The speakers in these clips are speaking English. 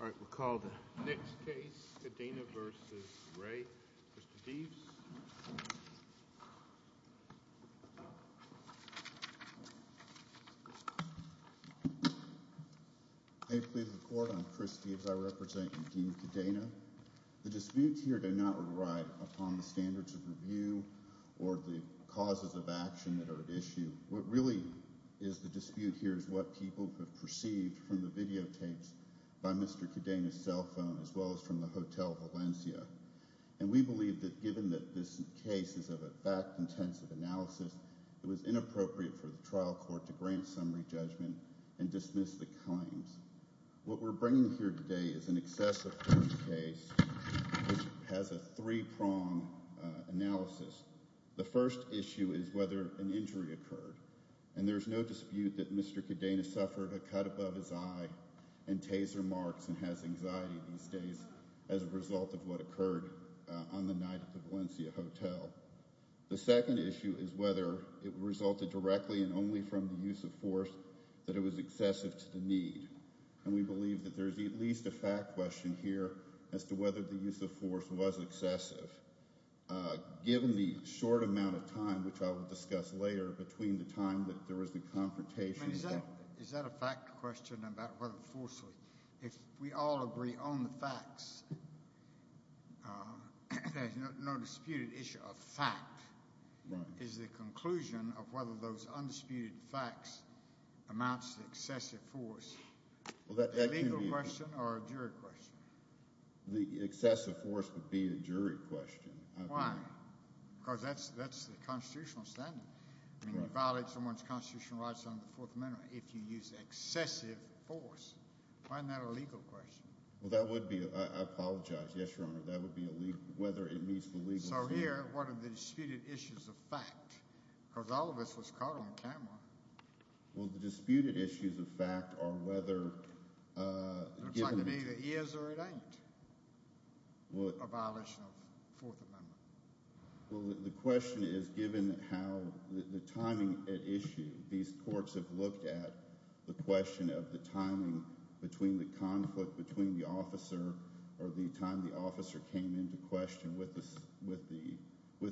All right, we'll call the next case, Cadena v. Ray. Mr. Deaves? May it please the Court, I'm Chris Deaves. I represent Dean Cadena. The disputes here do not rely upon the standards of review or the causes of action that are at issue. What really is the dispute here is what people have perceived from the videotapes by Mr. Cadena's cell phone, as well as from the Hotel Valencia. And we believe that given that this case is of a fact-intensive analysis, it was inappropriate for the trial court to grant summary judgment and dismiss the claims. What we're bringing here today is an excessive first case, which has a three-prong analysis. The first issue is whether an injury occurred. And there's no dispute that Mr. Cadena suffered a cut above his eye and taser marks and has anxiety these days as a result of what occurred on the night at the Valencia Hotel. The second issue is whether it resulted directly and only from the use of force that it was excessive to the need. And we believe that there's at least a fact question here as to whether the use of force was excessive. Given the short amount of time, which I will discuss later, between the time that there was the confrontation. Is that a fact question about whether forcefully? If we all agree on the facts, there's no disputed issue of fact. Right. Is the conclusion of whether those undisputed facts amounts to excessive force a legal question or a jury question? The excessive force would be a jury question. Why? Because that's the constitutional standard. I mean, you violate someone's constitutional rights under the Fourth Amendment if you use excessive force. Why isn't that a legal question? Well, that would be. I apologize. Yes, Your Honor. That would be whether it meets the legal standard. So here, what are the disputed issues of fact? Because all of this was caught on camera. Well, the disputed issues of fact are whether. It looks like it either is or it ain't a violation of the Fourth Amendment. Well, the question is given how the timing at issue, these courts have looked at the question of the timing between the conflict between the officer or the time the officer came into question with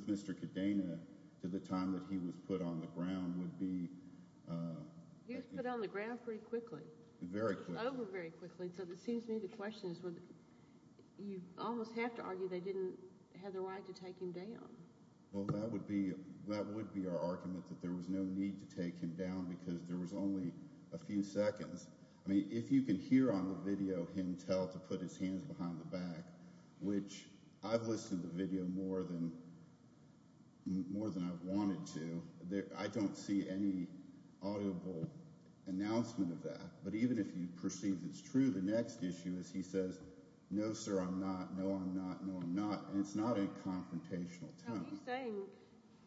Mr. Cadena to the time that he was put on the ground would be. He was put on the ground pretty quickly. Very quickly. Over very quickly. So it seems to me the question is you almost have to argue they didn't have the right to take him down. Well, that would be our argument that there was no need to take him down because there was only a few seconds. I mean, if you can hear on the video him tell to put his hands behind the back, which I've listened to video more than I've wanted to, I don't see any audible announcement of that. But even if you perceive it's true, the next issue is he says, no, sir, I'm not. No, I'm not. No, I'm not. And it's not a confrontational tone.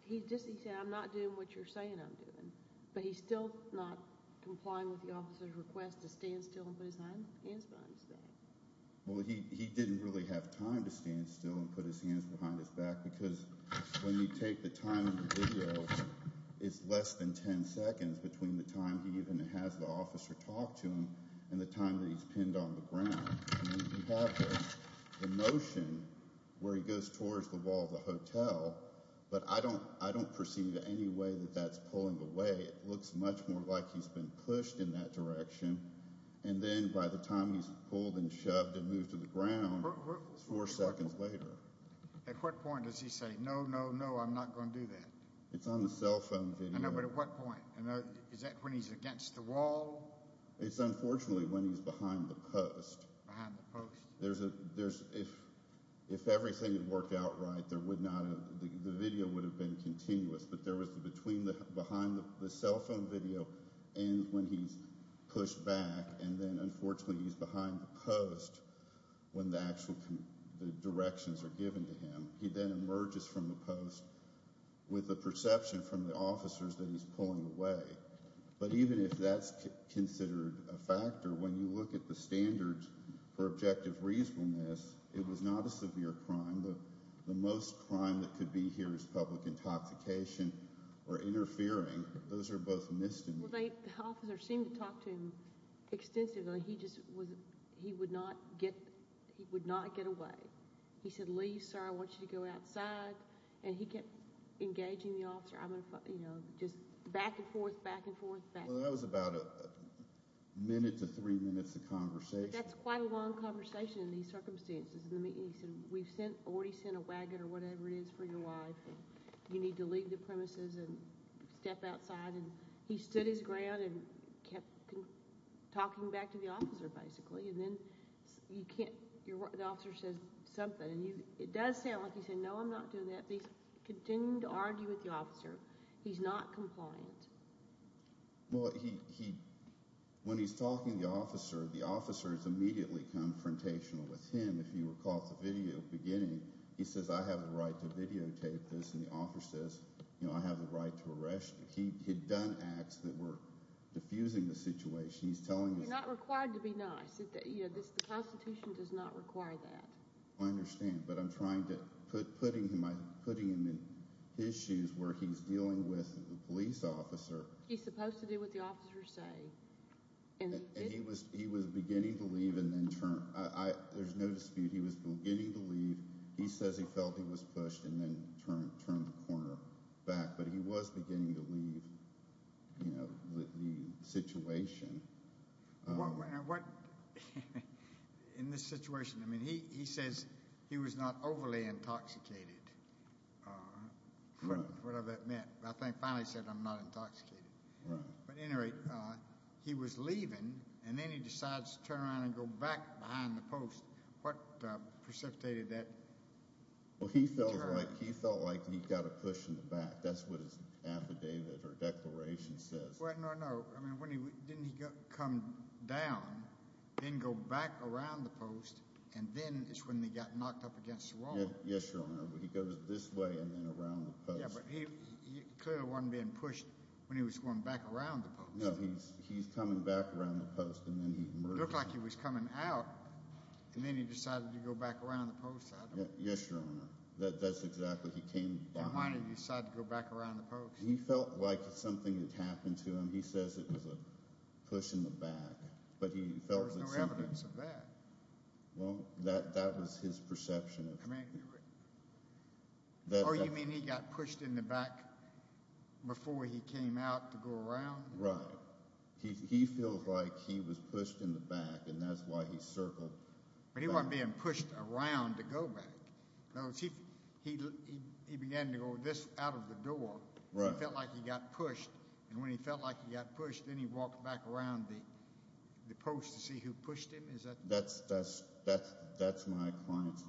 He just said, I'm not doing what you're saying I'm doing. But he's still not complying with the officer's request to stand still and put his hands behind his back. Well, he didn't really have time to stand still and put his hands behind his back because when you take the time in the video, it's less than 10 seconds between the time he even has the officer talk to him and the time that he's pinned on the ground. The motion where he goes towards the wall of the hotel. But I don't I don't perceive any way that that's pulling away. It looks much more like he's been pushed in that direction. And then by the time he's pulled and shoved and moved to the ground, four seconds later. At what point does he say, no, no, no, I'm not going to do that. It's on the cell phone. But at what point is that when he's against the wall? It's unfortunately when he's behind the post. There's a there's if if everything worked out right, there would not have the video would have been continuous. But there was between the behind the cell phone video and when he's pushed back. And then, unfortunately, he's behind the post when the actual the directions are given to him. He then emerges from the post with a perception from the officers that he's pulling away. But even if that's considered a factor, when you look at the standards for objective reasonableness, it was not a severe crime. But the most crime that could be here is public intoxication or interfering. Those are both missed. And they seem to talk to him extensively. He just was he would not get he would not get away. He said, Lee, sir, I want you to go outside. And he kept engaging the officer. I'm going to, you know, just back and forth, back and forth. That was about a minute to three minutes of conversation. That's quite a long conversation in these circumstances. And he said, we've sent already sent a wagon or whatever it is for your life. You need to leave the premises and step outside. And he stood his ground and kept talking back to the officer, basically. And then you can't. The officer says something. It does sound like he said, no, I'm not doing that. He's continuing to argue with the officer. He's not compliant. Well, he when he's talking to the officer, the officer is immediately confrontational with him. If you recall the video beginning, he says, I have the right to videotape this. And the officer says, you know, I have the right to arrest. He had done acts that were diffusing the situation. He's telling you not required to be nice. You know, this constitution does not require that. I understand. But I'm trying to putting him in his shoes where he's dealing with a police officer. He's supposed to do what the officers say. And he was beginning to leave and then turn. There's no dispute. He was beginning to leave. He says he felt he was pushed and then turned the corner back. But he was beginning to leave, you know, the situation. What in this situation? I mean, he says he was not overly intoxicated, whatever that meant. I think finally said I'm not intoxicated. But anyway, he was leaving and then he decides to turn around and go back behind the post. What precipitated that? Well, he felt like he felt like he got a push in the back. That's what his affidavit or declaration says. Well, no, no. I mean, when he didn't come down, didn't go back around the post. And then it's when they got knocked up against the wall. Yes, Your Honor. He goes this way and then around the post. Yeah, but he clearly wasn't being pushed when he was going back around the post. No, he's coming back around the post and then he emerges. It looked like he was coming out and then he decided to go back around the post. Yes, Your Honor. That's exactly. He came behind and decided to go back around the post. He felt like something had happened to him. He says it was a push in the back. But he felt like something. There's no evidence of that. Well, that was his perception. Oh, you mean he got pushed in the back before he came out to go around? Right. He feels like he was pushed in the back and that's why he circled. But he wasn't being pushed around to go back. He began to go this out of the door. He felt like he got pushed. And when he felt like he got pushed, then he walked back around the post to see who pushed him. That's my client's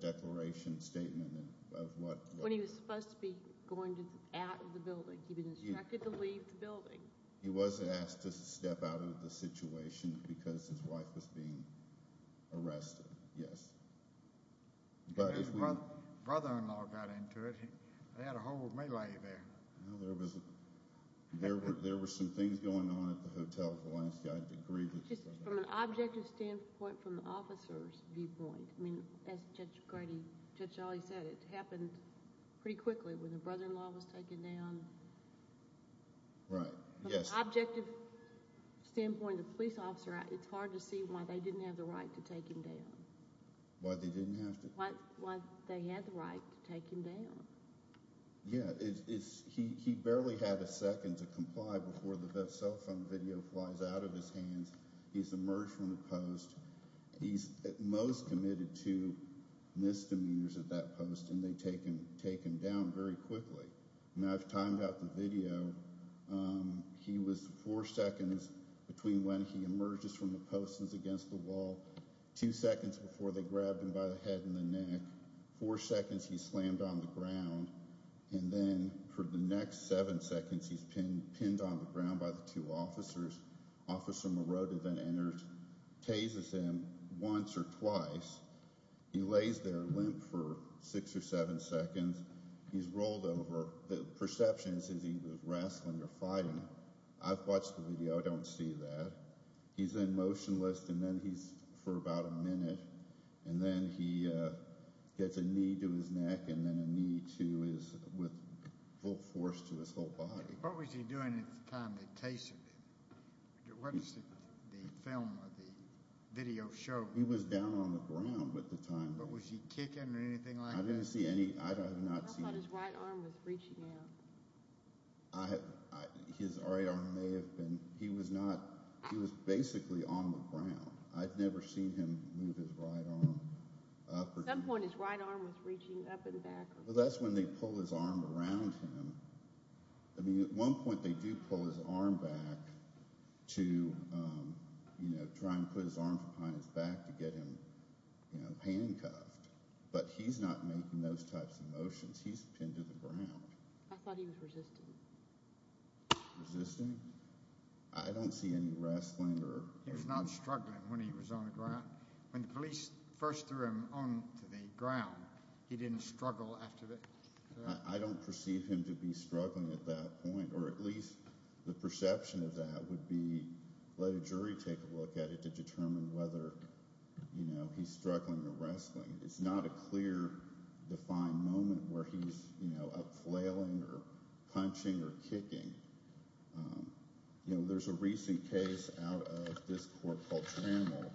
declaration statement of what. When he was supposed to be going out of the building. He'd been instructed to leave the building. He wasn't asked to step out of the situation because his wife was being arrested, yes. His brother-in-law got into it. They had a whole melee there. Well, there were some things going on at the hotel for the last guy to grieve. Just from an objective standpoint from the officer's viewpoint. I mean, as Judge Sholley said, it happened pretty quickly when the brother-in-law was taken down. Right, yes. From an objective standpoint, the police officer, it's hard to see why they didn't have the right to take him down. Why they didn't have to? Why they had the right to take him down. Yeah, he barely had a second to comply before the cell phone video flies out of his hands. He's emerged from the post. He's at most committed to misdemeanors at that post. And they take him down very quickly. Now, I've timed out the video. He was four seconds between when he emerges from the post and is against the wall, two seconds before they grabbed him by the head and the neck, four seconds he's slammed on the ground, and then for the next seven seconds he's pinned on the ground by the two officers. Officer Morota then enters, tazes him once or twice. He lays there limp for six or seven seconds. He's rolled over. The perception is he was wrestling or fighting. I've watched the video. I don't see that. He's in motionless, and then he's for about a minute, and then he gets a knee to his neck and then a knee with full force to his whole body. What was he doing at the time they tazed him? What does the film or the video show? He was down on the ground at the time. But was he kicking or anything like that? I thought his right arm was reaching out. His right arm may have been. He was basically on the ground. I've never seen him move his right arm up or down. At some point his right arm was reaching up and back. Well, that's when they pull his arm around him. At one point they do pull his arm back to try and put his arm behind his back to get him handcuffed, but he's not making those types of motions. He's pinned to the ground. I thought he was resisting. Resisting? I don't see any wrestling or… He was not struggling when he was on the ground. When the police first threw him onto the ground, he didn't struggle after that. I don't perceive him to be struggling at that point, or at least the perception of that would be let a jury take a look at it to determine whether he's struggling or wrestling. It's not a clear, defined moment where he's up flailing or punching or kicking. There's a recent case out of this court called Trammell,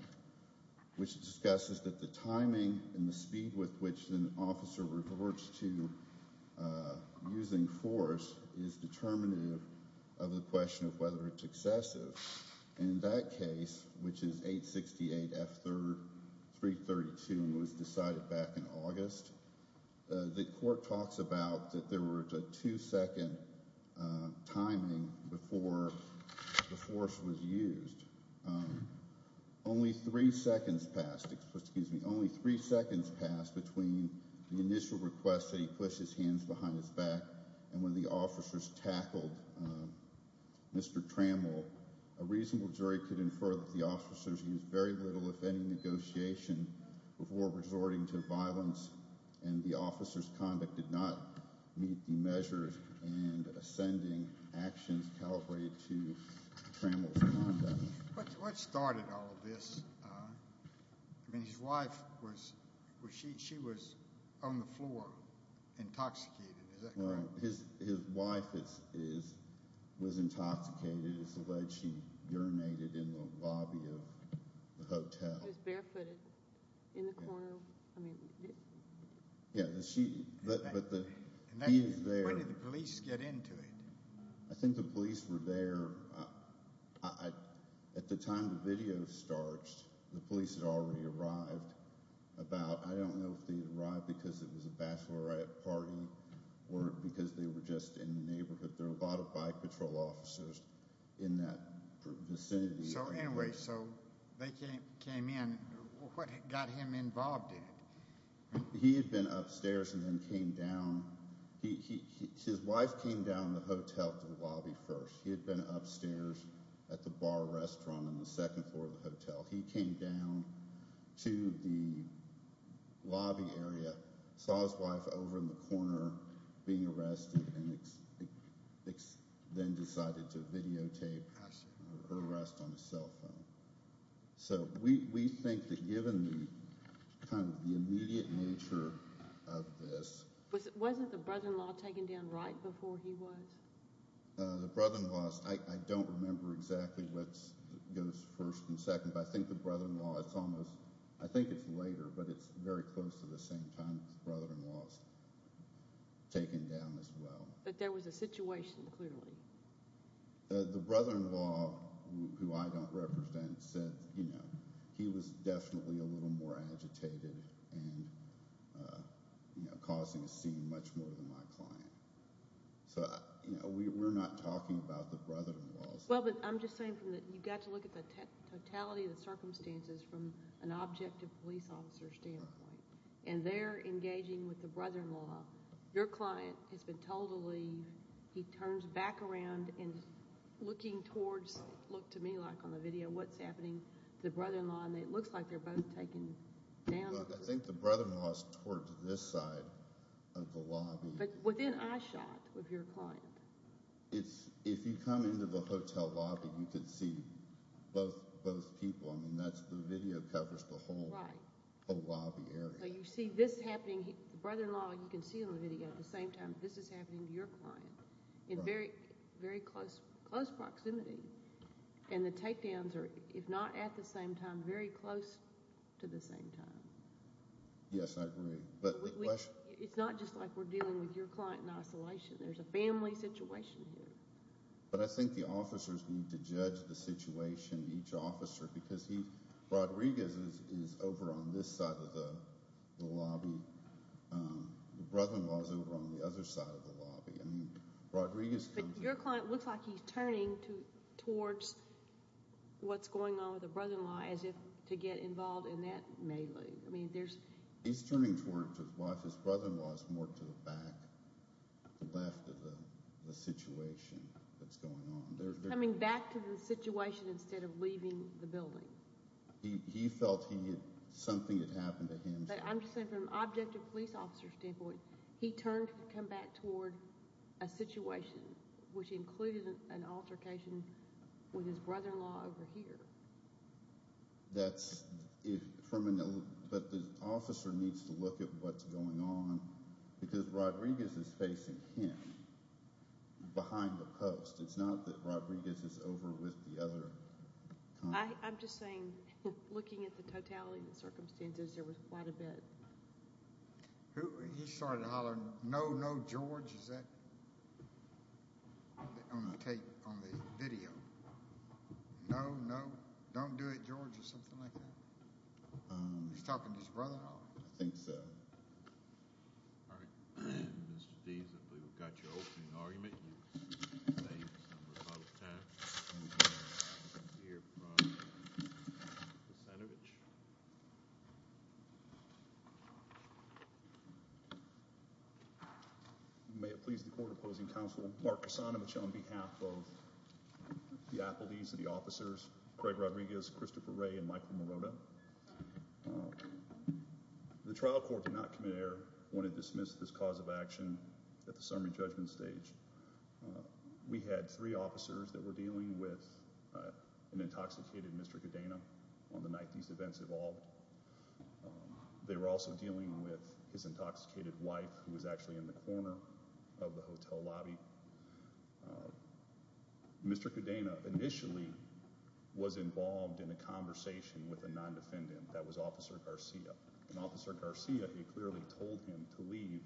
which discusses that the timing and the speed with which an officer reverts to using force is determinative of the question of whether it's excessive. In that case, which is 868F332 and was decided back in August, the court talks about that there was a two-second timing before the force was used. Only three seconds passed between the initial request that he push his hands behind his back and when the officers tackled Mr. Trammell, a reasonable jury could infer that the officers used very little, if any, negotiation before resorting to violence and the officers' conduct did not meet the measures and ascending actions calibrated to Trammell's conduct. What started all of this? I mean, his wife, she was on the floor intoxicated, is that correct? His wife was intoxicated. It's alleged she urinated in the lobby of the hotel. It was barefooted in the corner. Yeah, but he is there. When did the police get into it? I think the police were there. At the time the video starts, the police had already arrived about, I don't know if they arrived because it was a bachelorette party or because they were just in the neighborhood. There were a lot of bike patrol officers in that vicinity. So anyway, so they came in. What got him involved in it? He had been upstairs and then came down. His wife came down the hotel to the lobby first. He had been upstairs at the bar restaurant on the second floor of the hotel. He came down to the lobby area, saw his wife over in the corner being arrested, and then decided to videotape her arrest on his cell phone. So we think that given the immediate nature of this. Wasn't the brother-in-law taken down right before he was? The brother-in-law, I don't remember exactly what goes first and second, but I think the brother-in-law, I think it's later, but it's very close to the same time the brother-in-law was taken down as well. But there was a situation, clearly. The brother-in-law, who I don't represent, said he was definitely a little more agitated and causing a scene much more than my client. So we're not talking about the brother-in-law. Well, but I'm just saying that you've got to look at the totality of the circumstances from an objective police officer standpoint. And they're engaging with the brother-in-law. Your client has been told to leave. He turns back around and is looking towards, look to me like on the video, what's happening to the brother-in-law, and it looks like they're both taken down. Look, I think the brother-in-law is towards this side of the lobby. But within eyeshot of your client. If you come into the hotel lobby, you could see both people. I mean, the video covers the whole lobby area. So you see this happening. The brother-in-law you can see on the video at the same time. This is happening to your client in very close proximity. And the takedowns are, if not at the same time, very close to the same time. Yes, I agree. It's not just like we're dealing with your client in isolation. There's a family situation here. But I think the officers need to judge the situation, each officer, because Rodriguez is over on this side of the lobby. The brother-in-law is over on the other side of the lobby. But your client looks like he's turning towards what's going on with the brother-in-law as if to get involved in that melee. He's turning towards his wife. His brother-in-law is more to the back left of the situation that's going on. Coming back to the situation instead of leaving the building. He felt something had happened to him. But I'm just saying from an objective police officer standpoint, he turned to come back toward a situation which included an altercation with his brother-in-law over here. But the officer needs to look at what's going on because Rodriguez is facing him behind the post. It's not that Rodriguez is over with the other client. I'm just saying, looking at the totality of the circumstances, there was quite a bit. He started hollering, no, no, George. Is that on the tape, on the video? No, no, don't do it, George, or something like that. Is he talking to his brother-in-law? I think so. All right. Mr. Deas, I believe we've got your opening argument. You've saved some of our time. We're going to hear from the Senator. Mr. Leibovich. May it please the court opposing counsel, Mark Cassano, which on behalf of the appellees and the officers, Craig Rodriguez, Christopher Ray, and Michael Morota, the trial court did not commit error when it dismissed this cause of action at the summary judgment stage. We had three officers that were dealing with an intoxicated Mr. Cadena on the night these events evolved. They were also dealing with his intoxicated wife, who was actually in the corner of the hotel lobby. Mr. Cadena initially was involved in a conversation with a non-defendant. That was Officer Garcia. And Officer Garcia, he clearly told him to leave.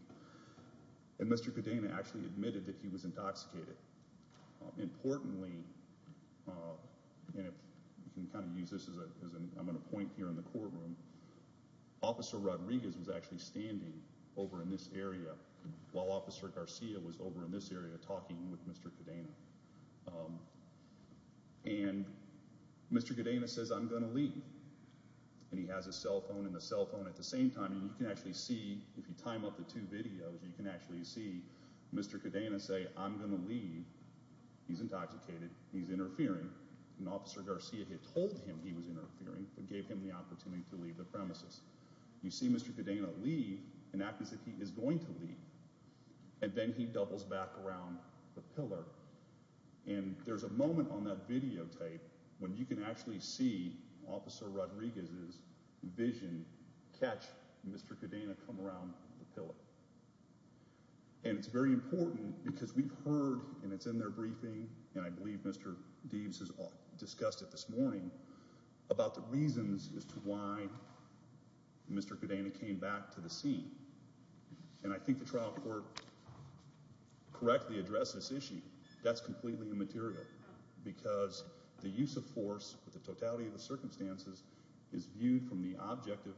And Mr. Cadena actually admitted that he was intoxicated. Importantly, and you can kind of use this as I'm going to point here in the courtroom, Officer Rodriguez was actually standing over in this area while Officer Garcia was over in this area talking with Mr. Cadena. And Mr. Cadena says, I'm going to leave. And he has a cell phone and a cell phone at the same time. And you can actually see, if you time up the two videos, you can actually see Mr. Cadena say, I'm going to leave. He's intoxicated. He's interfering. And Officer Garcia had told him he was interfering but gave him the opportunity to leave the premises. You see Mr. Cadena leave and act as if he is going to leave. And then he doubles back around the pillar. And there's a moment on that videotape when you can actually see Officer Rodriguez's vision catch Mr. Cadena from around the pillar. And it's very important because we've heard, and it's in their briefing, and I believe Mr. Deaves has discussed it this morning, about the reasons as to why Mr. Cadena came back to the scene. And I think the trial court correctly addressed this issue. That's completely immaterial because the use of force, with the totality of the circumstances, is viewed from the objective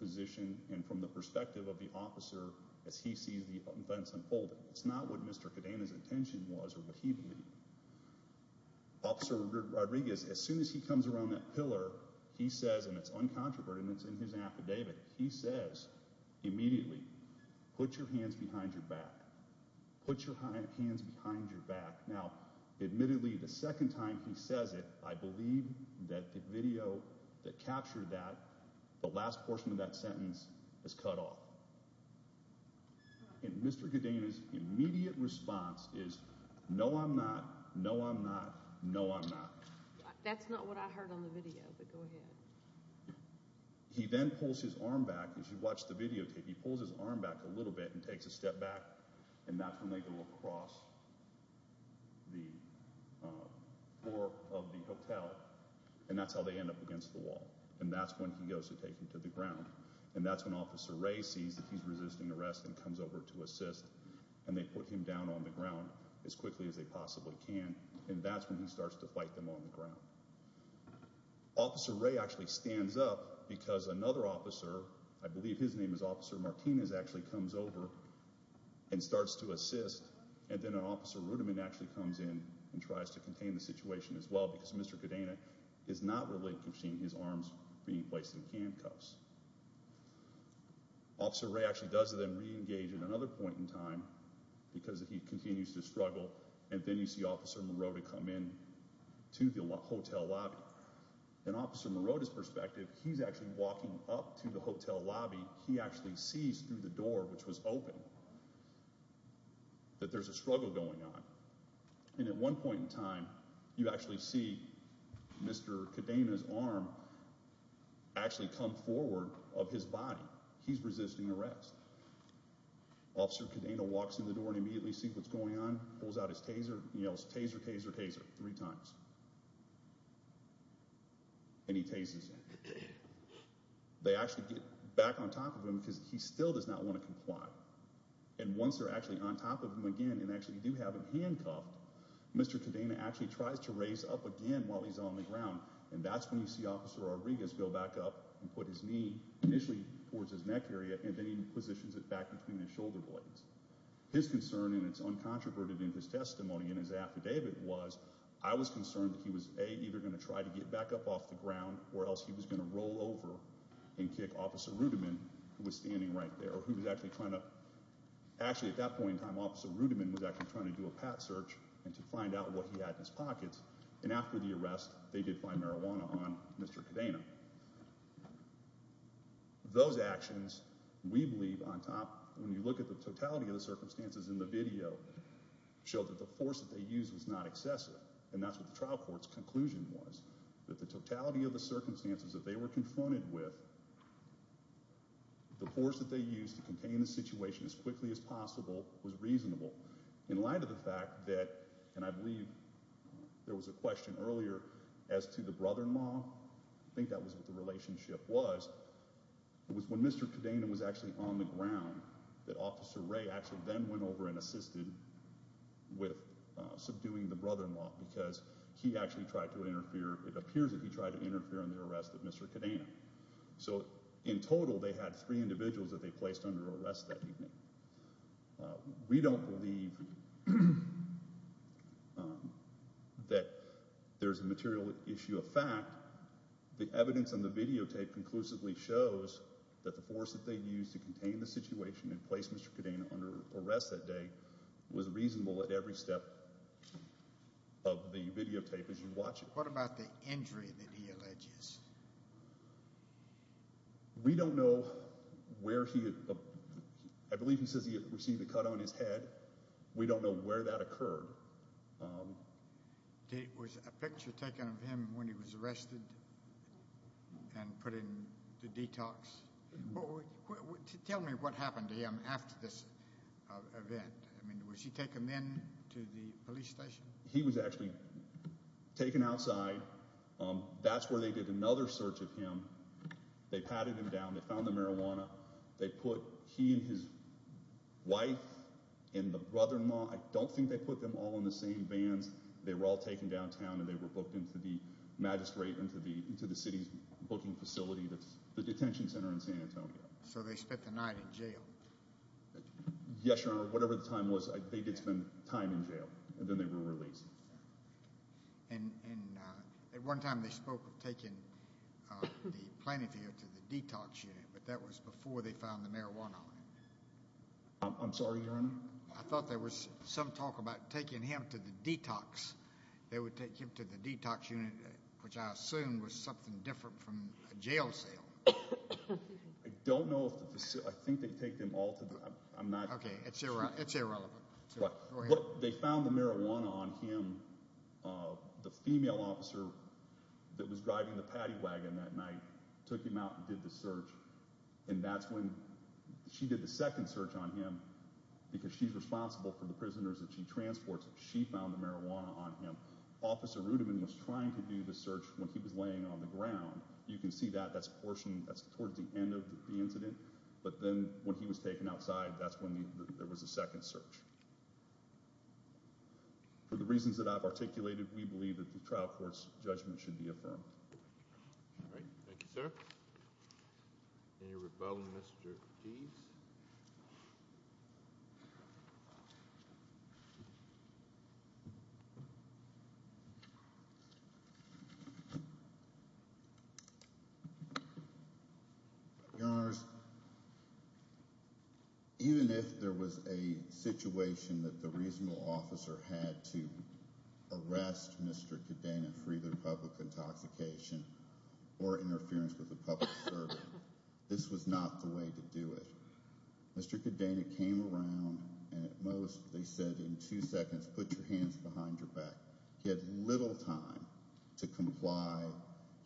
position and from the perspective of the officer as he sees the events unfolding. It's not what Mr. Cadena's intention was or what he believed. Officer Rodriguez, as soon as he comes around that pillar, he says, and it's uncontroverted and it's in his affidavit, he says immediately, put your hands behind your back. Put your hands behind your back. Now, admittedly, the second time he says it, I believe that the video that captured that, the last portion of that sentence, is cut off. And Mr. Cadena's immediate response is, no, I'm not, no, I'm not, no, I'm not. That's not what I heard on the video, but go ahead. He then pulls his arm back. If you watch the videotape, he pulls his arm back a little bit and takes a step back, and that's when they go across the floor of the hotel, and that's how they end up against the wall, and that's when he goes to take him to the ground. And that's when Officer Ray sees that he's resisting arrest and comes over to assist, and they put him down on the ground as quickly as they possibly can, and that's when he starts to fight them on the ground. Officer Ray actually stands up because another officer, I believe his name is Officer Martinez, actually comes over and starts to assist, and then Officer Rudiman actually comes in and tries to contain the situation as well because Mr. Cadena is not relinquishing his arms being placed in handcuffs. Officer Ray actually does then reengage at another point in time because he continues to struggle, and then you see Officer Morota come in to the hotel lobby. From Officer Morota's perspective, he's actually walking up to the hotel lobby. He actually sees through the door, which was open, that there's a struggle going on, and at one point in time, you actually see Mr. Cadena's arm actually come forward of his body. He's resisting arrest. Officer Cadena walks in the door and immediately sees what's going on, pulls out his taser, and yells, Taser, taser, taser, three times, and he tases him. They actually get back on top of him because he still does not want to comply, and once they're actually on top of him again and actually do have him handcuffed, Mr. Cadena actually tries to raise up again while he's on the ground, and that's when you see Officer Rodriguez go back up and put his knee initially towards his neck area, and then he positions it back between his shoulder blades. His concern, and it's uncontroverted in his testimony and his affidavit, was I was concerned that he was, A, either going to try to get back up off the ground or else he was going to roll over and kick Officer Rudiman, who was standing right there, or who was actually trying to—actually, at that point in time, Officer Rudiman was actually trying to do a pat search and to find out what he had in his pockets, and after the arrest, they did find marijuana on Mr. Cadena. Those actions, we believe, on top, when you look at the totality of the circumstances in the video, showed that the force that they used was not excessive, and that's what the trial court's conclusion was, that the totality of the circumstances that they were confronted with, the force that they used to contain the situation as quickly as possible was reasonable. In light of the fact that, and I believe there was a question earlier as to the brother-in-law, I think that was what the relationship was, it was when Mr. Cadena was actually on the ground that Officer Ray actually then went over and assisted with subduing the brother-in-law because he actually tried to interfere. It appears that he tried to interfere in the arrest of Mr. Cadena. So in total, they had three individuals that they placed under arrest that evening. We don't believe that there's a material issue of fact. The evidence on the videotape conclusively shows that the force that they used to contain the situation and place Mr. Cadena under arrest that day was reasonable at every step of the videotape as you watch it. What about the injury that he alleges? We don't know where he, I believe he says he received a cut on his head. We don't know where that occurred. Was a picture taken of him when he was arrested and put in the detox? Tell me what happened to him after this event. Was he taken then to the police station? He was actually taken outside. That's where they did another search of him. They patted him down. They found the marijuana. They put he and his wife and the brother-in-law. I don't think they put them all in the same vans. They were all taken downtown, and they were booked into the magistrate, into the city's booking facility, the detention center in San Antonio. So they spent the night in jail? Yes, Your Honor. Whatever the time was, they did spend time in jail, and then they were released. And at one time they spoke of taking the plaintiff here to the detox unit, but that was before they found the marijuana on him. I'm sorry, Your Honor? I thought there was some talk about taking him to the detox. They would take him to the detox unit, which I assume was something different from a jail cell. I don't know if the facility, I think they take them all to the, I'm not. Okay, it's irrelevant. They found the marijuana on him. The female officer that was driving the paddy wagon that night took him out and did the search, and that's when she did the second search on him because she's responsible for the prisoners that she transports. She found the marijuana on him. Officer Rudeman was trying to do the search when he was laying on the ground. You can see that. That's towards the end of the incident. But then when he was taken outside, that's when there was a second search. For the reasons that I've articulated, we believe that the trial court's judgment should be affirmed. All right. Thank you, sir. Any rebuttal, Mr. Deese? Yes. Your Honors, even if there was a situation that the reasonable officer had to arrest Mr. Cadena for either public intoxication or interference with a public servant, this was not the way to do it. Mr. Cadena came around, and at most, they said, in two seconds, put your hands behind your back. He had little time to comply.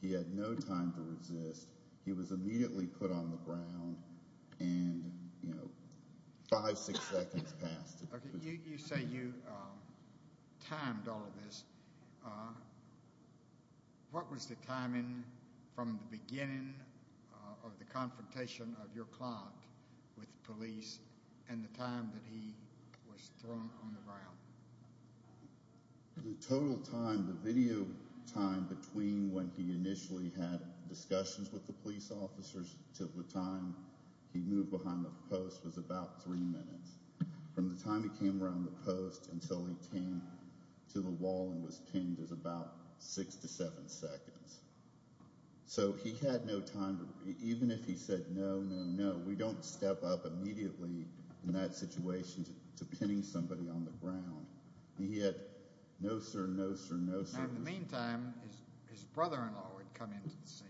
He had no time to resist. He was immediately put on the ground, and, you know, five, six seconds passed. Okay, you say you timed all of this. What was the timing from the beginning of the confrontation of your client with police and the time that he was thrown on the ground? The total time, the video time, between when he initially had discussions with the police officers to the time he moved behind the post was about three minutes. From the time he came around the post until he came to the wall and was pinned was about six to seven seconds. So he had no time. Even if he said, no, no, no, we don't step up immediately in that situation to pinning somebody on the ground. He had no sir, no sir, no sir. Now, in the meantime, his brother-in-law had come into the scene.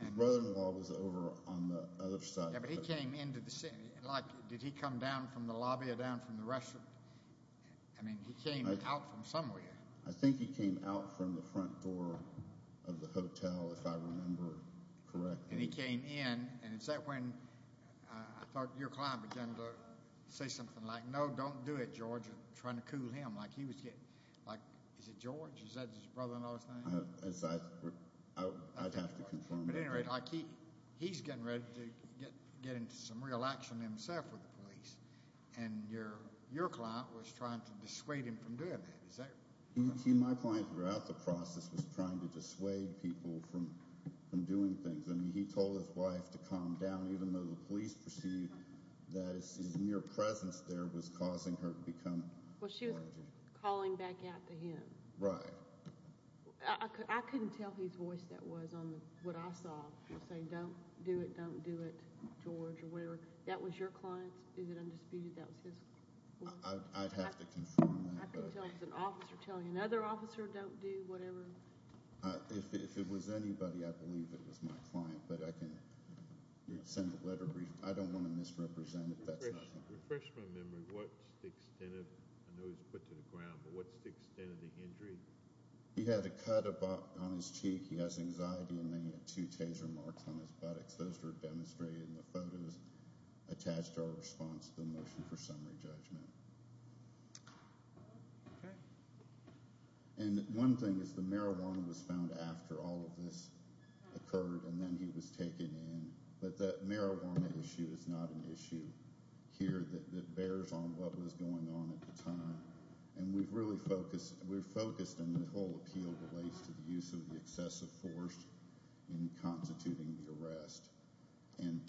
His brother-in-law was over on the other side. Yeah, but he came into the scene. Like, did he come down from the lobby or down from the restaurant? I mean, he came out from somewhere. I think he came out from the front door of the hotel, if I remember correctly. And he came in, and is that when I thought your client began to say something like, no, don't do it, George, trying to cool him. Like, he was getting, like, is it George? Is that his brother-in-law's name? I'd have to confirm. But, at any rate, he's getting ready to get into some real action himself with the police, and your client was trying to dissuade him from doing that. My client, throughout the process, was trying to dissuade people from doing things. I mean, he told his wife to calm down, even though the police perceived that his mere presence there was causing her to become more agitated. Well, she was calling back out to him. Right. I couldn't tell whose voice that was on what I saw. He was saying, don't do it, don't do it, George, or whatever. That was your client's? Is it undisputed that was his voice? I'd have to confirm that. I could tell he was an officer telling another officer, don't do whatever. If it was anybody, I believe it was my client. But I can send a letter. I don't want to misrepresent it. That's not fine. To refresh my memory, what's the extent of the injury? He had a cut on his cheek. He has anxiety, and then he had two taser marks on his buttocks. Those were demonstrated in the photos attached to our response to the motion for summary judgment. Okay. And one thing is the marijuana was found after all of this occurred, and then he was taken in. But the marijuana issue is not an issue. It's an issue here that bears on what was going on at the time. And we've really focused and the whole appeal relates to the use of the excessive force in constituting the arrest. And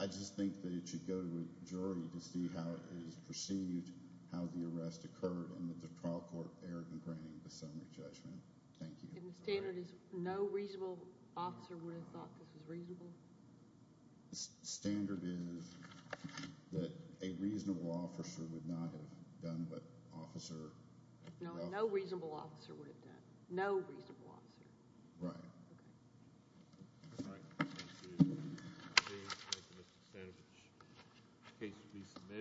I just think that it should go to a jury to see how it is perceived, how the arrest occurred, and that the trial court erred in granting the summary judgment. Thank you. And the standard is no reasonable officer would have thought this was reasonable? The standard is that a reasonable officer would not have done what officer— No reasonable officer would have done. No reasonable officer. Right. Okay. All right. Thank you. Thank you, Mr. Sandovich. The case will be submitted.